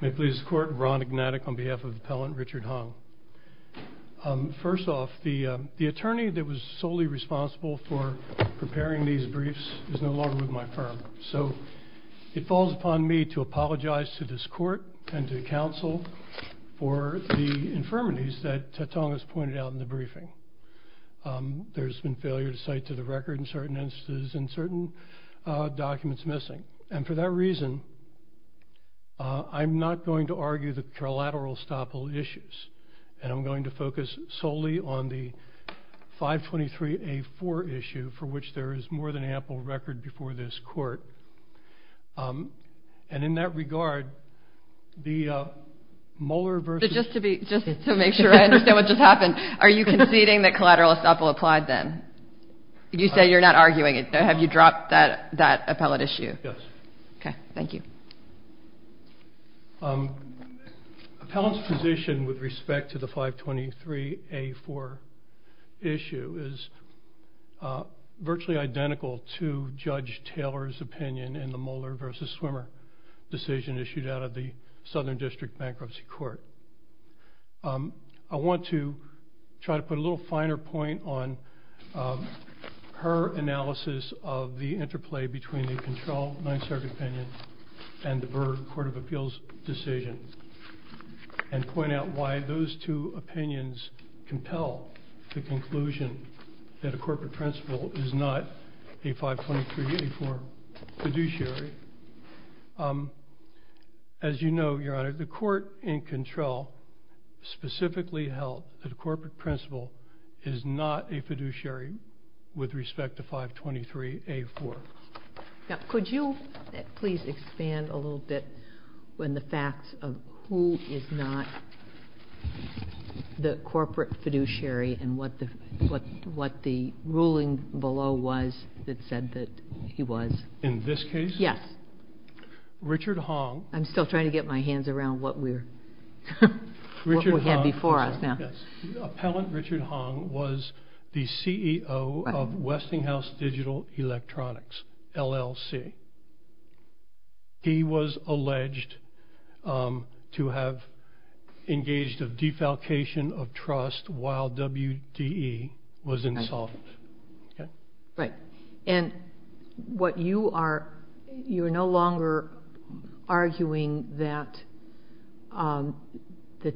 May it please the court, Ron Ignatik on behalf of the appellant Richard Hong. First off, the attorney that was solely responsible for preparing these briefs is no longer with my firm, so it falls upon me to apologize to this court and to counsel for the infirmities that Tatung has pointed out in the briefing. There's been failure to cite to the record in certain instances and certain documents missing, and for that reason I'm not going to argue the collateral estoppel issues, and I'm going to focus solely on the 523A4 issue for which there is more than ample record before this court. And in that regard, the Mueller versus... Just to be, just to make sure I understand what just happened, are you conceding that collateral estoppel applied then? You say you're not arguing it, have you dropped that that appellant issue? Yes. Okay, thank you. Appellant's position with respect to the 523A4 issue is virtually identical to Judge Taylor's opinion in the Mueller versus Swimmer decision issued out of the Southern District Bankruptcy Court. I want to try to put a little finer point on her analysis of the interplay between the controlled Ninth Circuit opinion and the Berg Court of Appeals decision, and point out why those two opinions compel the conclusion that a corporate principle is not a 523A4 fiduciary. As you know, Your Honor, the court in control specifically held that it is not a fiduciary with respect to 523A4. Now, could you please expand a little bit on the facts of who is not the corporate fiduciary and what the ruling below was that said that he was? In this case? Yes. Richard Hong... I'm still trying to get my hands around what we have before us now. Appellant Richard Hong was the CEO of Westinghouse Digital Electronics, LLC. He was alleged to have engaged a defalcation of trust while WDE was insolvent. Right. And what you are... arguing that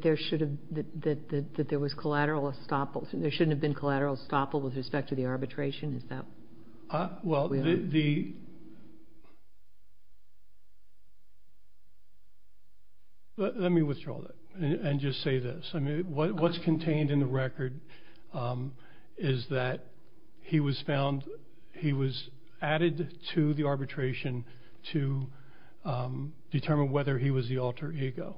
there should have... that there was collateral estoppel... there shouldn't have been collateral estoppel with respect to the arbitration? Is that... Well, the... Let me withdraw that and just say this. I mean, what's contained in the record is that he was found... he was added to the arbitration to determine whether he was the alter ego.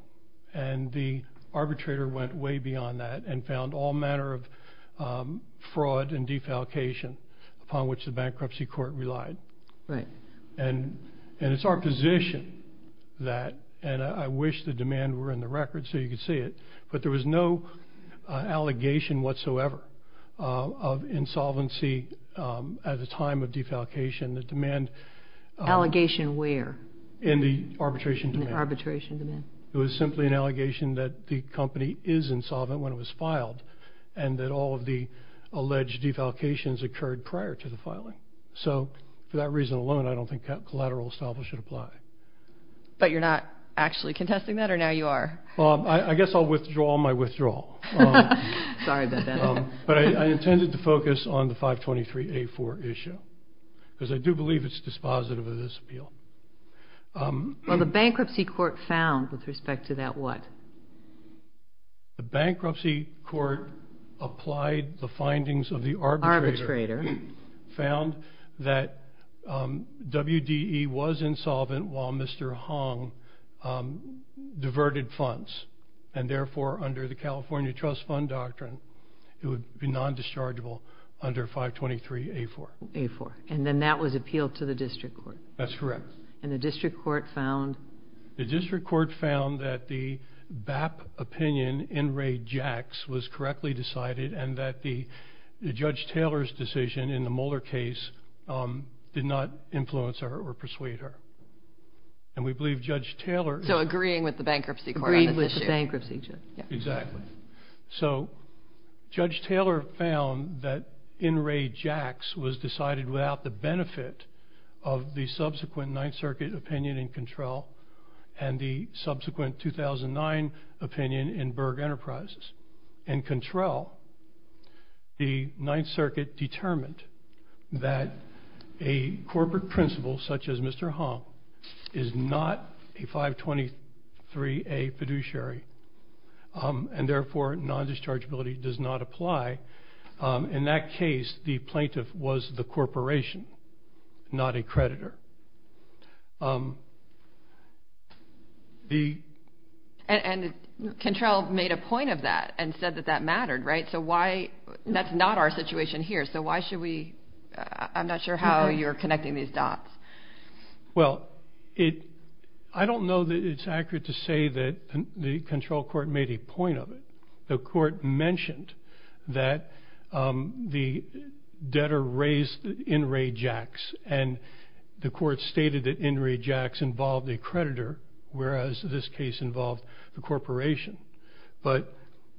And the arbitrator went way beyond that and found all manner of fraud and defalcation upon which the bankruptcy court relied. Right. And it's our position that... and I wish the demand were in the record so you could see it, but there was no allegation whatsoever of insolvency at the time of defalcation. The demand... Allegation where? In the arbitration demand. Arbitration demand. It was simply an allegation that the company is insolvent when it was filed and that all of the alleged defalcations occurred prior to the filing. So, for that reason alone, I don't think that collateral estoppel should apply. But you're not actually contesting that or now you are? I guess I'll withdraw my withdrawal. Sorry about that. But I intended to focus on the 523A4 issue, because I do believe it's dispositive of this appeal. Well, the bankruptcy court found, with respect to that what? The bankruptcy court applied the findings of the arbitrator, found that WDE was insolvent while Mr. Hong diverted funds. And therefore, under the California Trust Fund Doctrine, it would be non-dischargeable under 523A4. A4. And then that was appealed to the district court? That's correct. And the district court found? The district court found that the BAP opinion in Ray Jacks was correctly decided and that the Judge Taylor's decision in the Mueller case did not influence her or persuade her. And we believe Judge Taylor... So, agreeing with the bankruptcy court on this issue? Agreeing with the bankruptcy judge. Yeah. Exactly. So, Judge Taylor found that in Ray Jacks was decided without the benefit of the subsequent Ninth Circuit opinion in Control and the subsequent 2009 opinion in Berg Enterprises. In Control, the Ninth Circuit found that a corporate principal, such as Mr. Hong, is not a 523A fiduciary. And therefore, non-dischargeability does not apply. In that case, the plaintiff was the corporation, not a creditor. And Control made a point of that and said that that mattered, right? So, why... That's not our situation here. So, why should we... I'm not sure how you're connecting these dots. Well, I don't know that it's accurate to say that the Control Court made a point of it. The court mentioned that the debtor raised in Ray Jacks and the court stated that in Ray Jacks involved a creditor, whereas this case involved the corporation. But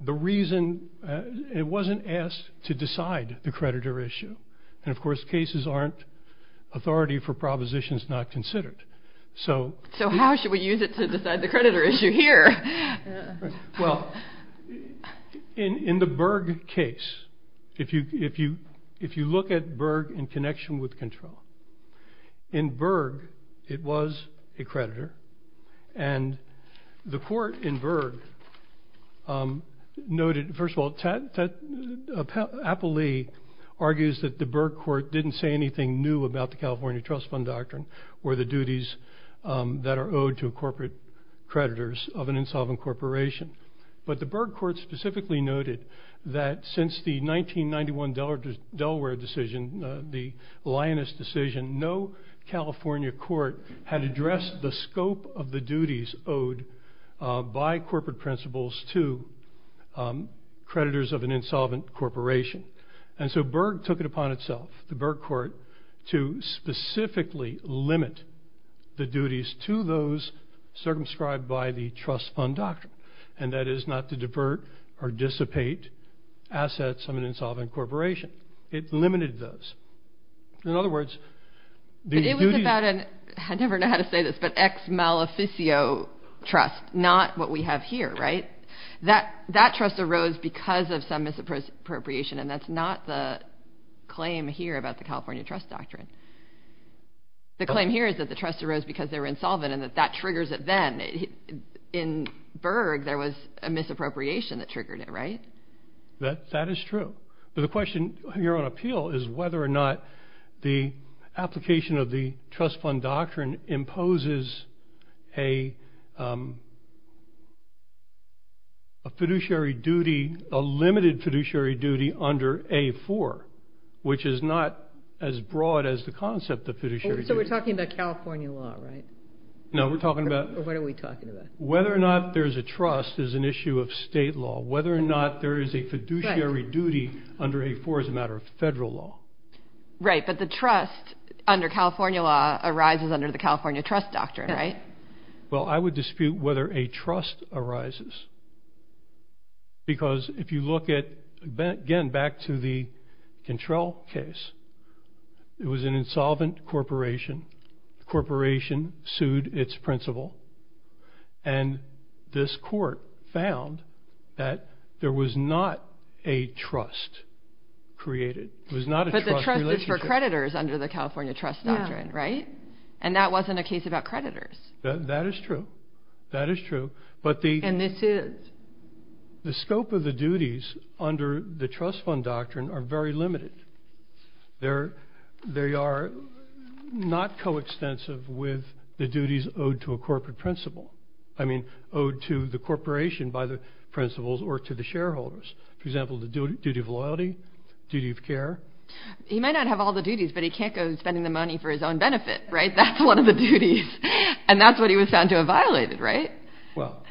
the reason... It wasn't asked to decide the creditor issue. And of course, cases aren't authority for propositions not considered. So... So, how should we use it to decide the creditor issue here? Well, in the Berg case, if you look at Berg in connection with Control, in Berg, it was a creditor. And the court in Berg noted... First of all, Appley argues that the Berg court didn't say anything new about the California Trust Fund Doctrine or the duties that are owed to corporate creditors of an insolvent corporation. But the Berg court specifically noted that since the 1991 Delaware decision, the lioness decision, no California court had addressed the scope of the duties owed by corporate principals to creditors of an insolvent corporation. And so Berg took it upon itself, the Berg court, to specifically limit the duties to those circumscribed by the Trust Fund Doctrine. And that is not to divert or dissipate assets of an insolvent corporation. It limited those. In other words... I never know how to say this, but ex-maleficio trust, not what we have here, right? That trust arose because of some misappropriation, and that's not the claim here about the California Trust Doctrine. The claim here is that the trust arose because they were insolvent and that that triggers it then. In Berg, there was a misappropriation that triggered it, right? That is true. But the question here on appeal is whether or not the application of the Trust Fund Doctrine imposes a fiduciary duty, a limited fiduciary duty, under A-4, which is not as broad as the concept of fiduciary duty. So we're talking about California law, right? No, we're talking about... What are we talking about? Whether or not there's a trust is an issue of state law. Whether or not there is a fiduciary duty under A-4 is a matter of federal law. Right, but the trust under California law arises under the California Trust Doctrine, right? Well, I would dispute whether a trust arises, because if you look at, again, back to the Cantrell case, it was an insolvent corporation. The corporation sued its principal, and this court found that there was not a trust created. It was not a trust relationship. But the trust is for creditors under the Trust Fund Doctrine, and that wasn't a case about creditors. That is true. That is true, but the... And this is. The scope of the duties under the Trust Fund Doctrine are very limited. They are not co-extensive with the duties owed to a corporate principal. I mean, owed to the corporation by the principals or to the shareholders. For example, the duty of loyalty, duty of care. He might not have all the duties, but he can't go spending the money for his own benefit, right? That's one of the duties, and that's what he was found to have violated, right? Well,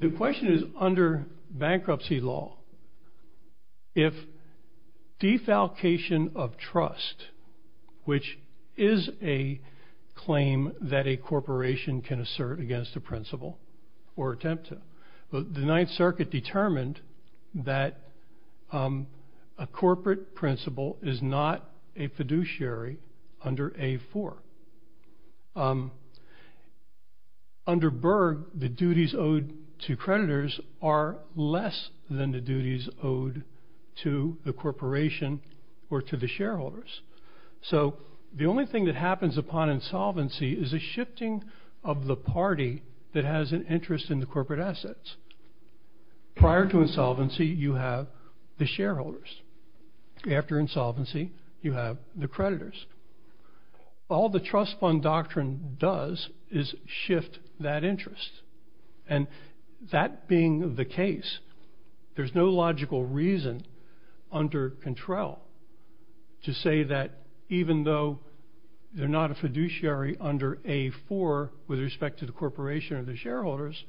the question is, under bankruptcy law, if defalcation of trust, which is a claim that a corporation can assert against a principal or attempt to, the Ninth Circuit determined that a corporate principal is not a fiduciary under A-4. Under Berg, the duties owed to creditors are less than the duties owed to the corporation or to the shareholders. So the only thing that happens upon insolvency is a shifting of the party that has an interest in the corporate assets. Prior to insolvency, you have the shareholders. After insolvency, you have the creditors. All the trust fund doctrine does is shift that interest, and that being the case, there's no logical reason under control to say that even though they're not a fiduciary under A-4 with respect to the corporation or the shareholders,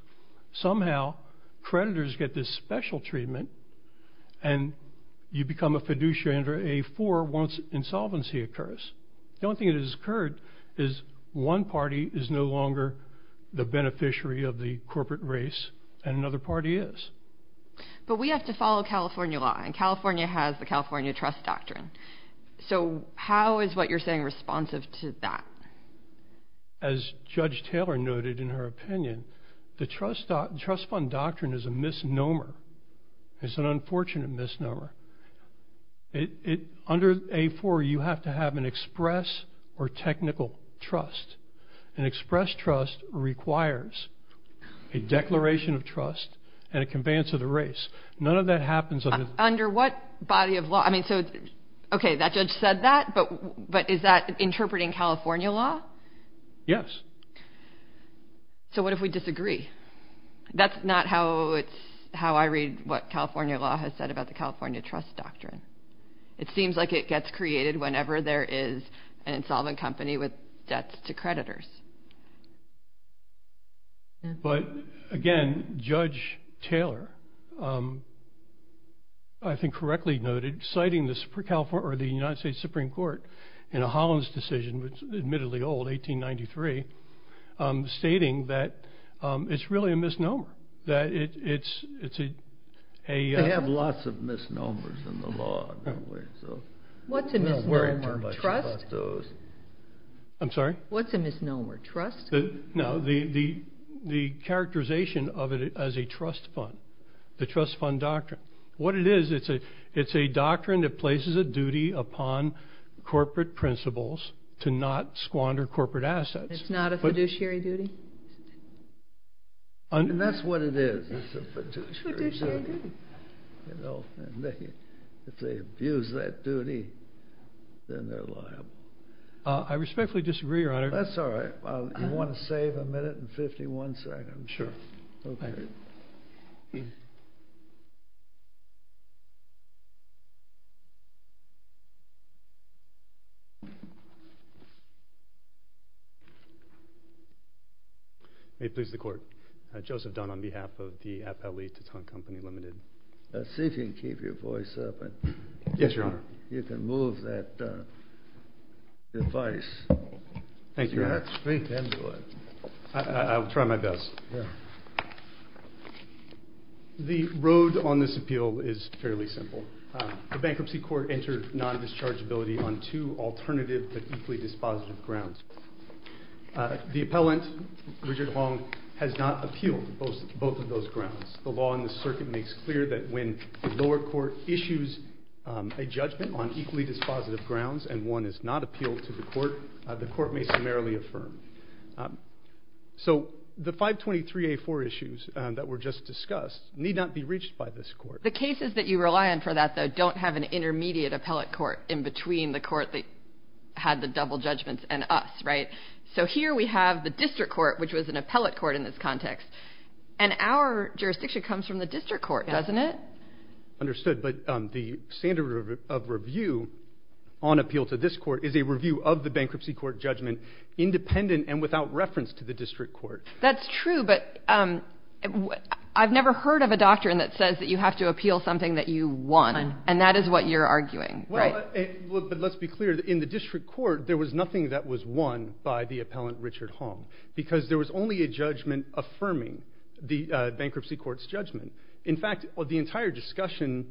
somehow creditors get this special treatment and you become a fiduciary under A-4 once insolvency occurs. The only thing that has occurred is one party is no longer the beneficiary of the corporate race and another party is. But we have to follow California law, and California has the California trust doctrine. So how is what you're saying responsive to that? As Judge Taylor noted in her opinion, the trust fund doctrine is a misnomer. It's an unfortunate misnomer. Under A-4, you have to have an express or technical trust. An express trust requires a declaration of trust and a conveyance of the race. None of that happens under... Under what body of law? I mean, so okay, that judge said that, but is that interpreting California law? Yes. So what if we disagree? That's not how it's... how I read what California law has said about the California trust doctrine. It seems like it gets created whenever there is an insolvent company with debts to creditors. But again, Judge Taylor, I think correctly noted, citing the California or the United States Supreme Court in a Hollins decision, which is admittedly old, 1893, stating that it's really a misnomer. That it's a... They have lots of misnomers in the law. What's a misnomer? Trust? I'm sorry? What's a misnomer? Trust? No, the characterization of it as a trust fund, the trust fund doctrine. What it is, it's a doctrine that places a duty upon corporate principles to not squander corporate assets. It's not a fiduciary duty? And that's what it is. It's a fiduciary duty. If they abuse that duty, then they're liable. I respectfully disagree, Your Honor. That's all right. You want to save a minute and 51 seconds? Sure. May it please the Court. Joseph Dunn on behalf of the Appellee Taton Company Limited. Let's see if you can keep your voice up. Yes, Your Honor. You can move that device. Thank you, Your Honor. Speak into it. I'll try my best. The road on this appeal is fairly simple. The bankruptcy court entered non-dischargeability on two alternative but equally dispositive grounds. The appellant, Richard Long, has not appealed both of those grounds. The law in the circuit makes clear that when the lower court issues a judgment on equally dispositive grounds and one is not appealed to the court, the court may summarily affirm. So the 523A4 issues that were just discussed need not be reached by this court. The cases that you rely on for that, though, don't have an intermediate appellate court in between the court that had the double judgments and us, right? So here we have the district court, which was an appellate court in this context. And our jurisdiction comes from the district court, doesn't it? Understood. But the standard of review on appeal to this court is a review of the bankruptcy court judgment independent and without reference to the district court. That's true. But I've never heard of a doctrine that says that you have to appeal something that you want. And that is what you're arguing, right? Well, but let's be clear. In the district court, there was nothing that was won by the appellant, Richard Long, because there was only a judgment affirming the bankruptcy court's judgment. In fact, the entire discussion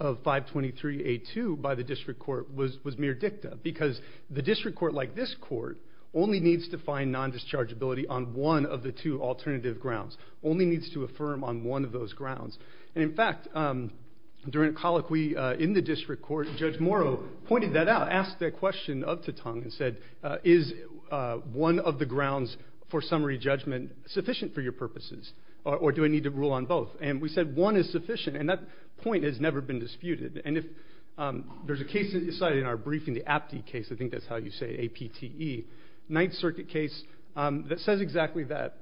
of 523A2 by the district court was mere dicta because the district court, like this court, only needs to find non-dischargeability on one of the two alternative grounds, only needs to affirm on one of those grounds. And in fact, during a colloquy in the district court, Judge Morrow pointed that out, asked a question of Titang and said, is one of the grounds for summary judgment sufficient for your purposes or do I need to rule on both? And we said one is sufficient. And that point has never been disputed. And if there's a case that you cite in our briefing, the Apte case, I think that's how you say it, A-P-T-E, Ninth Circuit case, that says exactly that.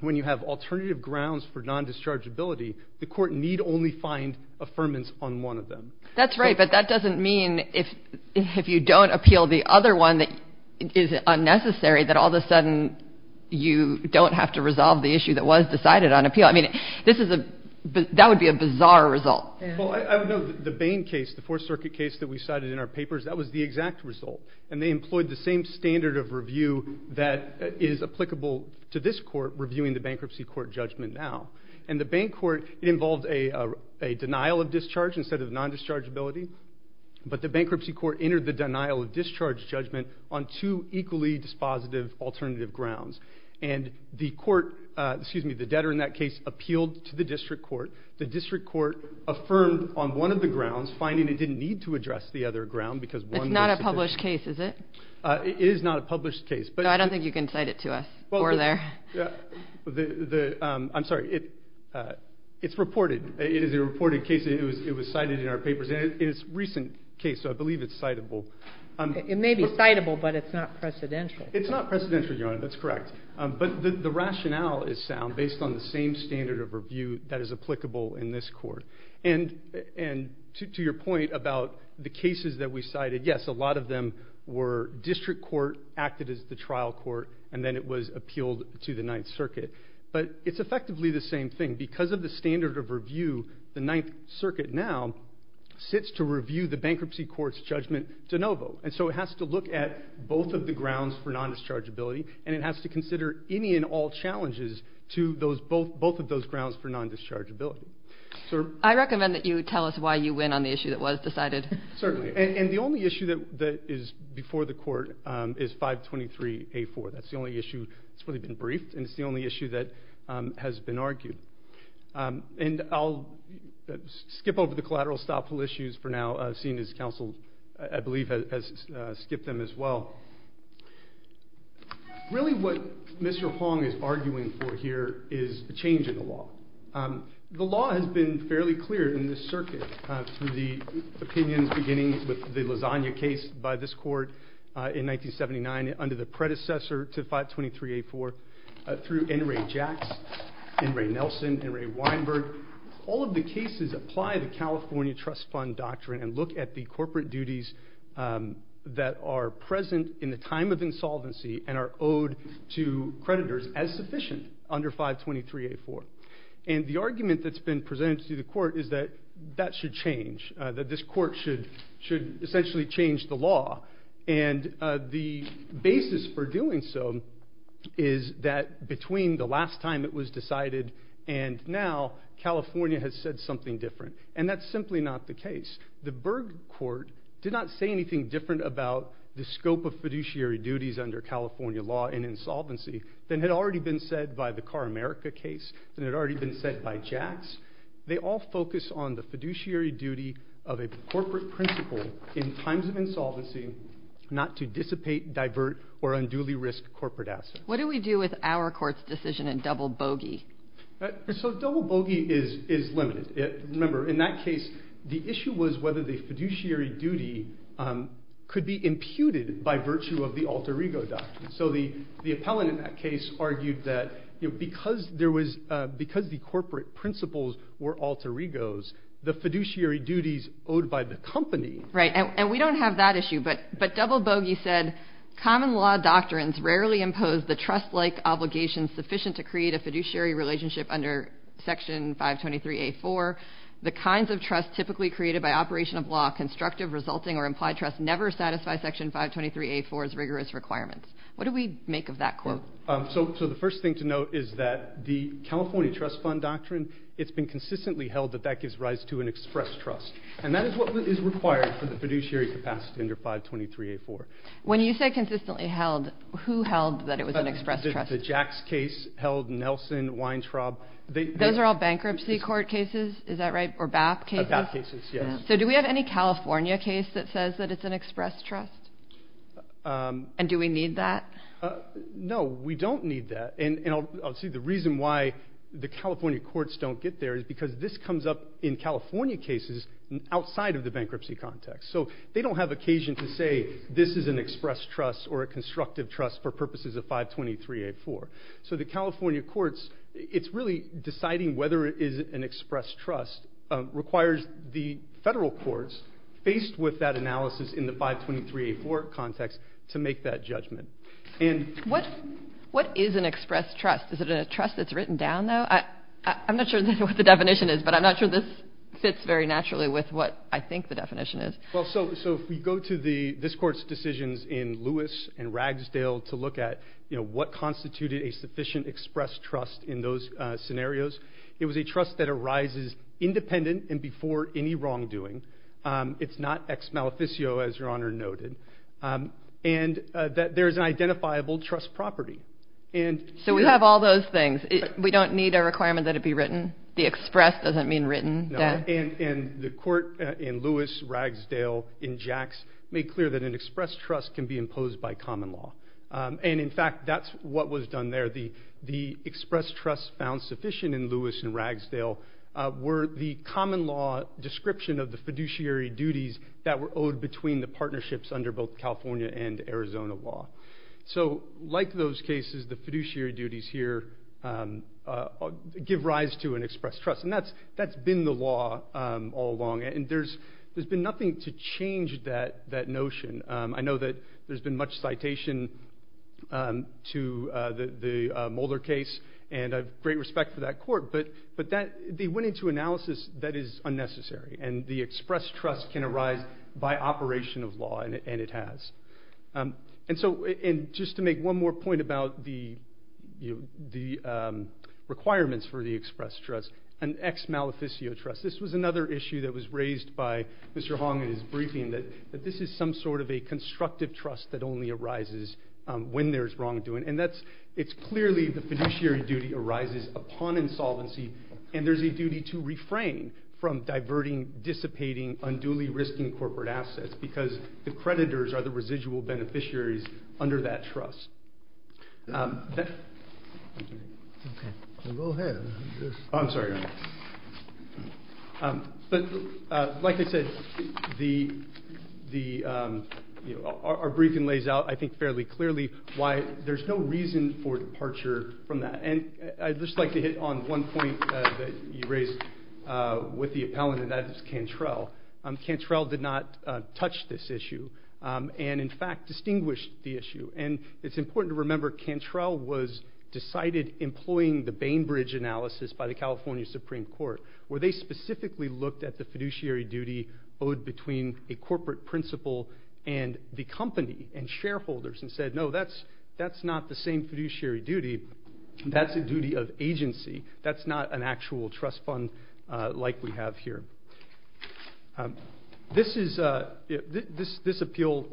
When you have alternative grounds for non-dischargeability, the court need only find affirmance on one of them. That's right. But that doesn't mean if you don't appeal the other one that is unnecessary, that all of a sudden you don't have to resolve the issue that was decided on appeal. I mean, this is a, that would be a bizarre result. Well, I would note the Bain case, the Fourth Circuit case that we cited in our papers, that was the exact result. And they employed the same standard of review that is applicable to this court reviewing the bankruptcy court judgment now. And the Bain court, it involved a denial of discharge instead of non-dischargeability. But the bankruptcy court entered the denial of discharge judgment on two equally dispositive alternative grounds. And the court, excuse me, the debtor in that case appealed to the district court. The district court affirmed on one of the grounds, finding it didn't need to address the other ground because one was sufficient. It's not a published case, is it? It is not a published case. No, I don't think you can cite it to us or there. The, I'm sorry, it's reported, it is a reported case, it was cited in our papers, and it is a recent case, so I believe it's citable. It may be citable, but it's not precedential. It's not precedential, Your Honor, that's correct. But the rationale is sound based on the same standard of review that is applicable in this court. And to your point about the cases that we cited, yes, a lot of them were district court acted as the trial court, and then it was appealed to the Ninth Circuit. But it's effectively the same thing. Because of the standard of review, the Ninth Circuit now sits to review the bankruptcy court's judgment de novo. And so it has to look at both of the grounds for non-dischargeability, and it has to consider any and all challenges to both of those grounds for non-dischargeability. I recommend that you tell us why you win on the issue that was decided. Certainly. And the only issue that is before the court is 523A4. That's the only issue that's really been briefed, and it's the only issue that has been argued. And I'll skip over the collateral styleful issues for now, seeing as counsel, I believe, has skipped them as well. Really what Mr. Hong is arguing for here is a change in the law. The law has been fairly clear in this circuit, through the opinions beginning with the Lasagna case by this court in 1979, under the predecessor to 523A4, through N. Ray Jacks, N. Ray Nelson, N. Ray Weinberg. All of the cases apply the California Trust Fund doctrine and look at the corporate duties that are present in the time of insolvency and are owed to creditors as sufficient under 523A4. And the argument that's been presented to the court is that that should change, that this court should essentially change the law. And the basis for doing so is that between the last time it was decided and now, California has said something different. And that's simply not the case. The Berg Court did not say anything different about the scope of fiduciary duties under California law in insolvency than had already been said by the Carr America case, than had already been said by Jacks. They all focus on the fiduciary duty of a corporate principle in times of insolvency, not to dissipate, divert, or unduly risk corporate assets. What do we do with our court's decision in double bogey? So double bogey is limited. Remember, in that case, the issue was whether the fiduciary duty could be imputed by virtue of the alter ego doctrine. So the appellant in that case argued that because the corporate principles were alter egos, the fiduciary duties owed by the company. Right. And we don't have that issue. But double bogey said, common law doctrines rarely impose the trust-like obligation sufficient to create a fiduciary relationship under Section 523A4. The kinds of trust typically created by operation of law, constructive, resulting, or implied trust never satisfy Section 523A4's rigorous requirements. What do we make of that court? So the first thing to note is that the California trust fund doctrine, it's been consistently held that that gives rise to an express trust. And that is what is required for the fiduciary capacity under 523A4. When you say consistently held, who held that it was an express trust? The Jacks case held, Nelson, Weintraub. Those are all bankruptcy court cases, is that right? Or BAP cases? BAP cases, yes. So do we have any California case that says that it's an express trust? And do we need that? No, we don't need that. And I'll say the reason why the California courts don't get there is because this comes up in California cases outside of the bankruptcy context. So they don't have occasion to say this is an express trust or a constructive trust for purposes of 523A4. So the California courts, it's really deciding whether it is an express trust requires the federal courts, faced with that analysis in the 523A4 context, to make that judgment. And what is an express trust? Is it a trust that's written down, though? I'm not sure what the definition is, but I'm not sure this fits very naturally with what I think the definition is. Well, so if we go to this court's decisions in Lewis and Ragsdale to look at, you know, what constituted a sufficient express trust in those scenarios, it was a trust that arises independent and before any wrongdoing. It's not ex-maleficio, as Your Honor noted. And that there's an identifiable trust property. So we have all those things. We don't need a requirement that it be written? The express doesn't mean written? No, and the court in Lewis, Ragsdale, and Jacks made clear that an express trust can be imposed by common law. And in fact, that's what was done there. The express trust found sufficient in Lewis and Ragsdale were the common law description of the fiduciary duties that were owed between the partnerships under both California and Arizona law. So like those cases, the fiduciary duties here give rise to an express trust. And that's been the law all along. And there's been nothing to change that notion. I know that there's been much citation to the Mulder case, and I have great respect for that court. But they went into analysis that is unnecessary. And the express trust can arise by operation of law, and it has. And so just to make one more point about the requirements for the express trust, an ex-maleficio trust. This was another issue that was raised by Mr. Hong in his briefing that this is some sort of a constructive trust that only arises when there's wrongdoing. And that's it's clearly the fiduciary duty arises upon insolvency. And there's a duty to refrain from diverting, dissipating, unduly risking corporate assets because the creditors are the residual beneficiaries under that trust. Go ahead. I'm sorry. But like I said, our briefing lays out, I think, fairly clearly why there's no reason for departure from that. And I'd just like to hit on one point that you raised with the appellant, and that is Cantrell. Cantrell did not touch this issue and, in fact, distinguished the issue. And it's important to remember Cantrell was decided employing the Bainbridge analysis by the California Supreme Court, where they specifically looked at the fiduciary duty owed between a corporate principal and the company and shareholders and said, no, that's not the same fiduciary duty. That's a duty of agency. That's not an actual trust fund like we have here. This is, this appeal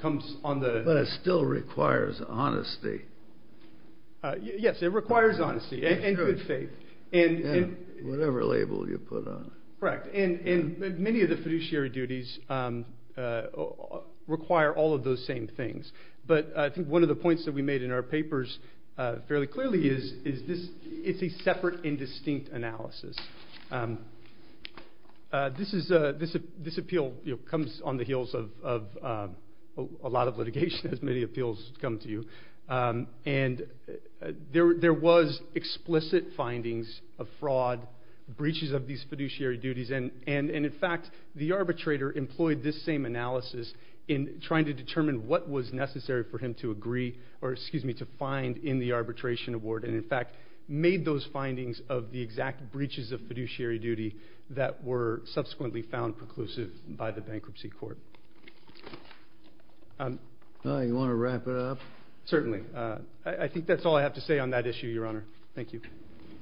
comes on the. But it still requires honesty. Yes, it requires honesty and good faith. And whatever label you put on it. Correct. And many of the fiduciary duties require all of those same things. But I think one of the points that we made in our papers fairly clearly is, is this, it's a separate and distinct analysis. This is, this appeal comes on the heels of a lot of litigation, as many appeals come to you. And there was explicit findings of fraud, breaches of these fiduciary duties. And, in fact, the arbitrator employed this same analysis in trying to determine what was necessary for him to agree, or excuse me, to find in the arbitration award. And, in fact, made those findings of the exact breaches of fiduciary duty that were subsequently found preclusive by the bankruptcy court. You want to wrap it up? Certainly. I think that's all I have to say on that issue, Your Honor. Thank you.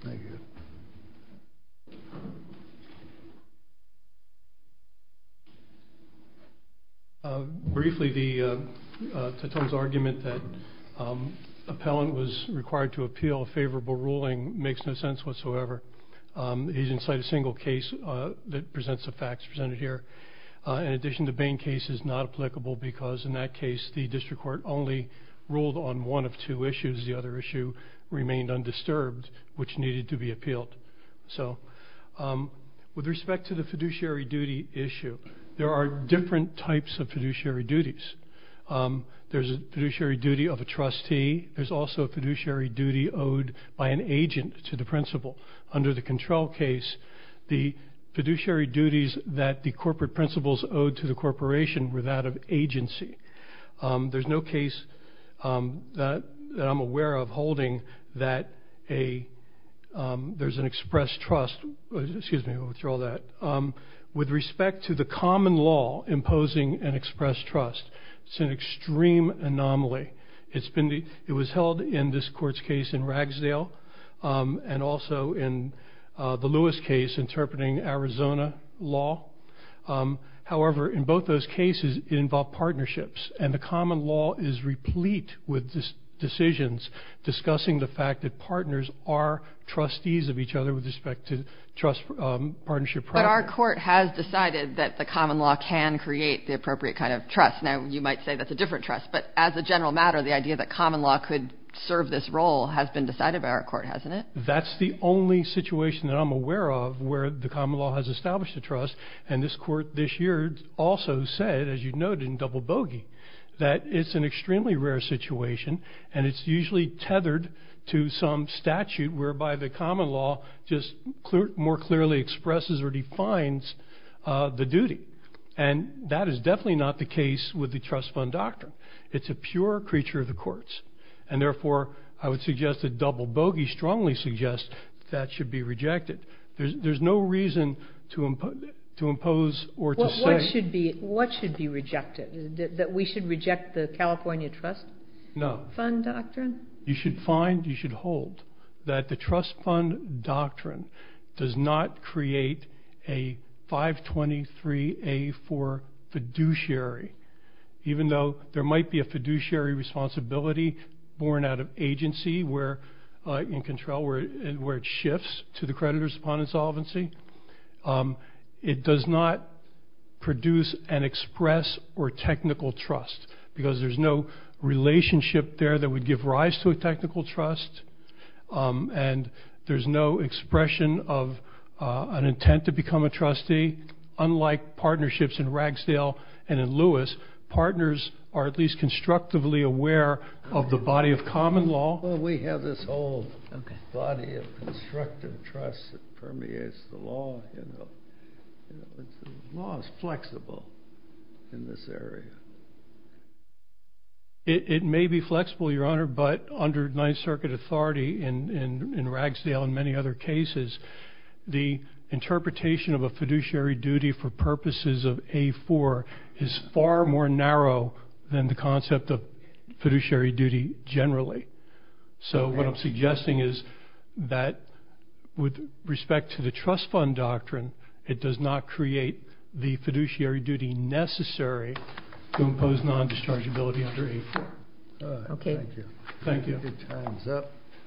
Thank you. Briefly, the, Teton's argument that an appellant was required to appeal a favorable ruling makes no sense whatsoever. He didn't cite a single case that presents the facts presented here. In addition, the Bain case is not applicable because, in that case, the district court only ruled on one of two issues. The other issue remained undisturbed, which needed to be appealed. So, with respect to the fiduciary duty issue, there are different types of fiduciary duties. There's a fiduciary duty of a trustee. There's also a fiduciary duty owed by an agent to the principal. Under the control case, the fiduciary duties that the corporate principals owed to the corporation were that of agency. There's no case that I'm aware of holding that a, there's an expressed trust, excuse me, I'll withdraw that, with respect to the common law imposing an expressed trust. It's an extreme anomaly. It's been, it was held in this court's case in Ragsdale and also in the Lewis case interpreting Arizona law. However, in both those cases, it involved partnerships, and the common law is replete with decisions discussing the fact that partners are trustees of each other with respect to trust partnership practice. But our court has decided that the common law can create the appropriate kind of trust. Now, you might say that's a different trust, but as a general matter, the idea that common law could serve this role has been decided by our court, hasn't it? That's the only situation that I'm aware of where the common law has established a trust. And this court this year also said, as you noted in Double Bogey, that it's an extremely rare situation, and it's usually tethered to some statute whereby the common law just more clearly expresses or defines the duty. And that is definitely not the case with the trust fund doctrine. It's a pure creature of the courts. And therefore, I would suggest that Double Bogey strongly suggests that should be rejected. There's no reason to impose or to say- What should be rejected? That we should reject the California trust fund doctrine? No. You should find, you should hold that the trust fund doctrine does not create a 523A4 fiduciary, even though there might be a fiduciary responsibility born out of agency where, in control, where it shifts to the creditors upon insolvency. It does not produce an express or technical trust because there's no relationship there that would give rise to a technical trust. And there's no expression of an intent to become a trustee. Unlike partnerships in Ragsdale and in Lewis, partners are at least constructively aware of the body of common law. Well, we have this whole body of constructive trust that permeates the law, you know. The law is flexible in this area. It may be flexible, Your Honor, but under Ninth Circuit authority in Ragsdale and many other cases, the interpretation of a fiduciary duty for purposes of A4 is far more narrow than the concept of fiduciary duty generally. So what I'm suggesting is that with respect to the trust fund doctrine, it does not create the fiduciary duty necessary to impose non-dischargeability under A4. Okay. Thank you.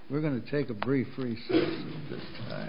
We're going to take a brief recess at this time.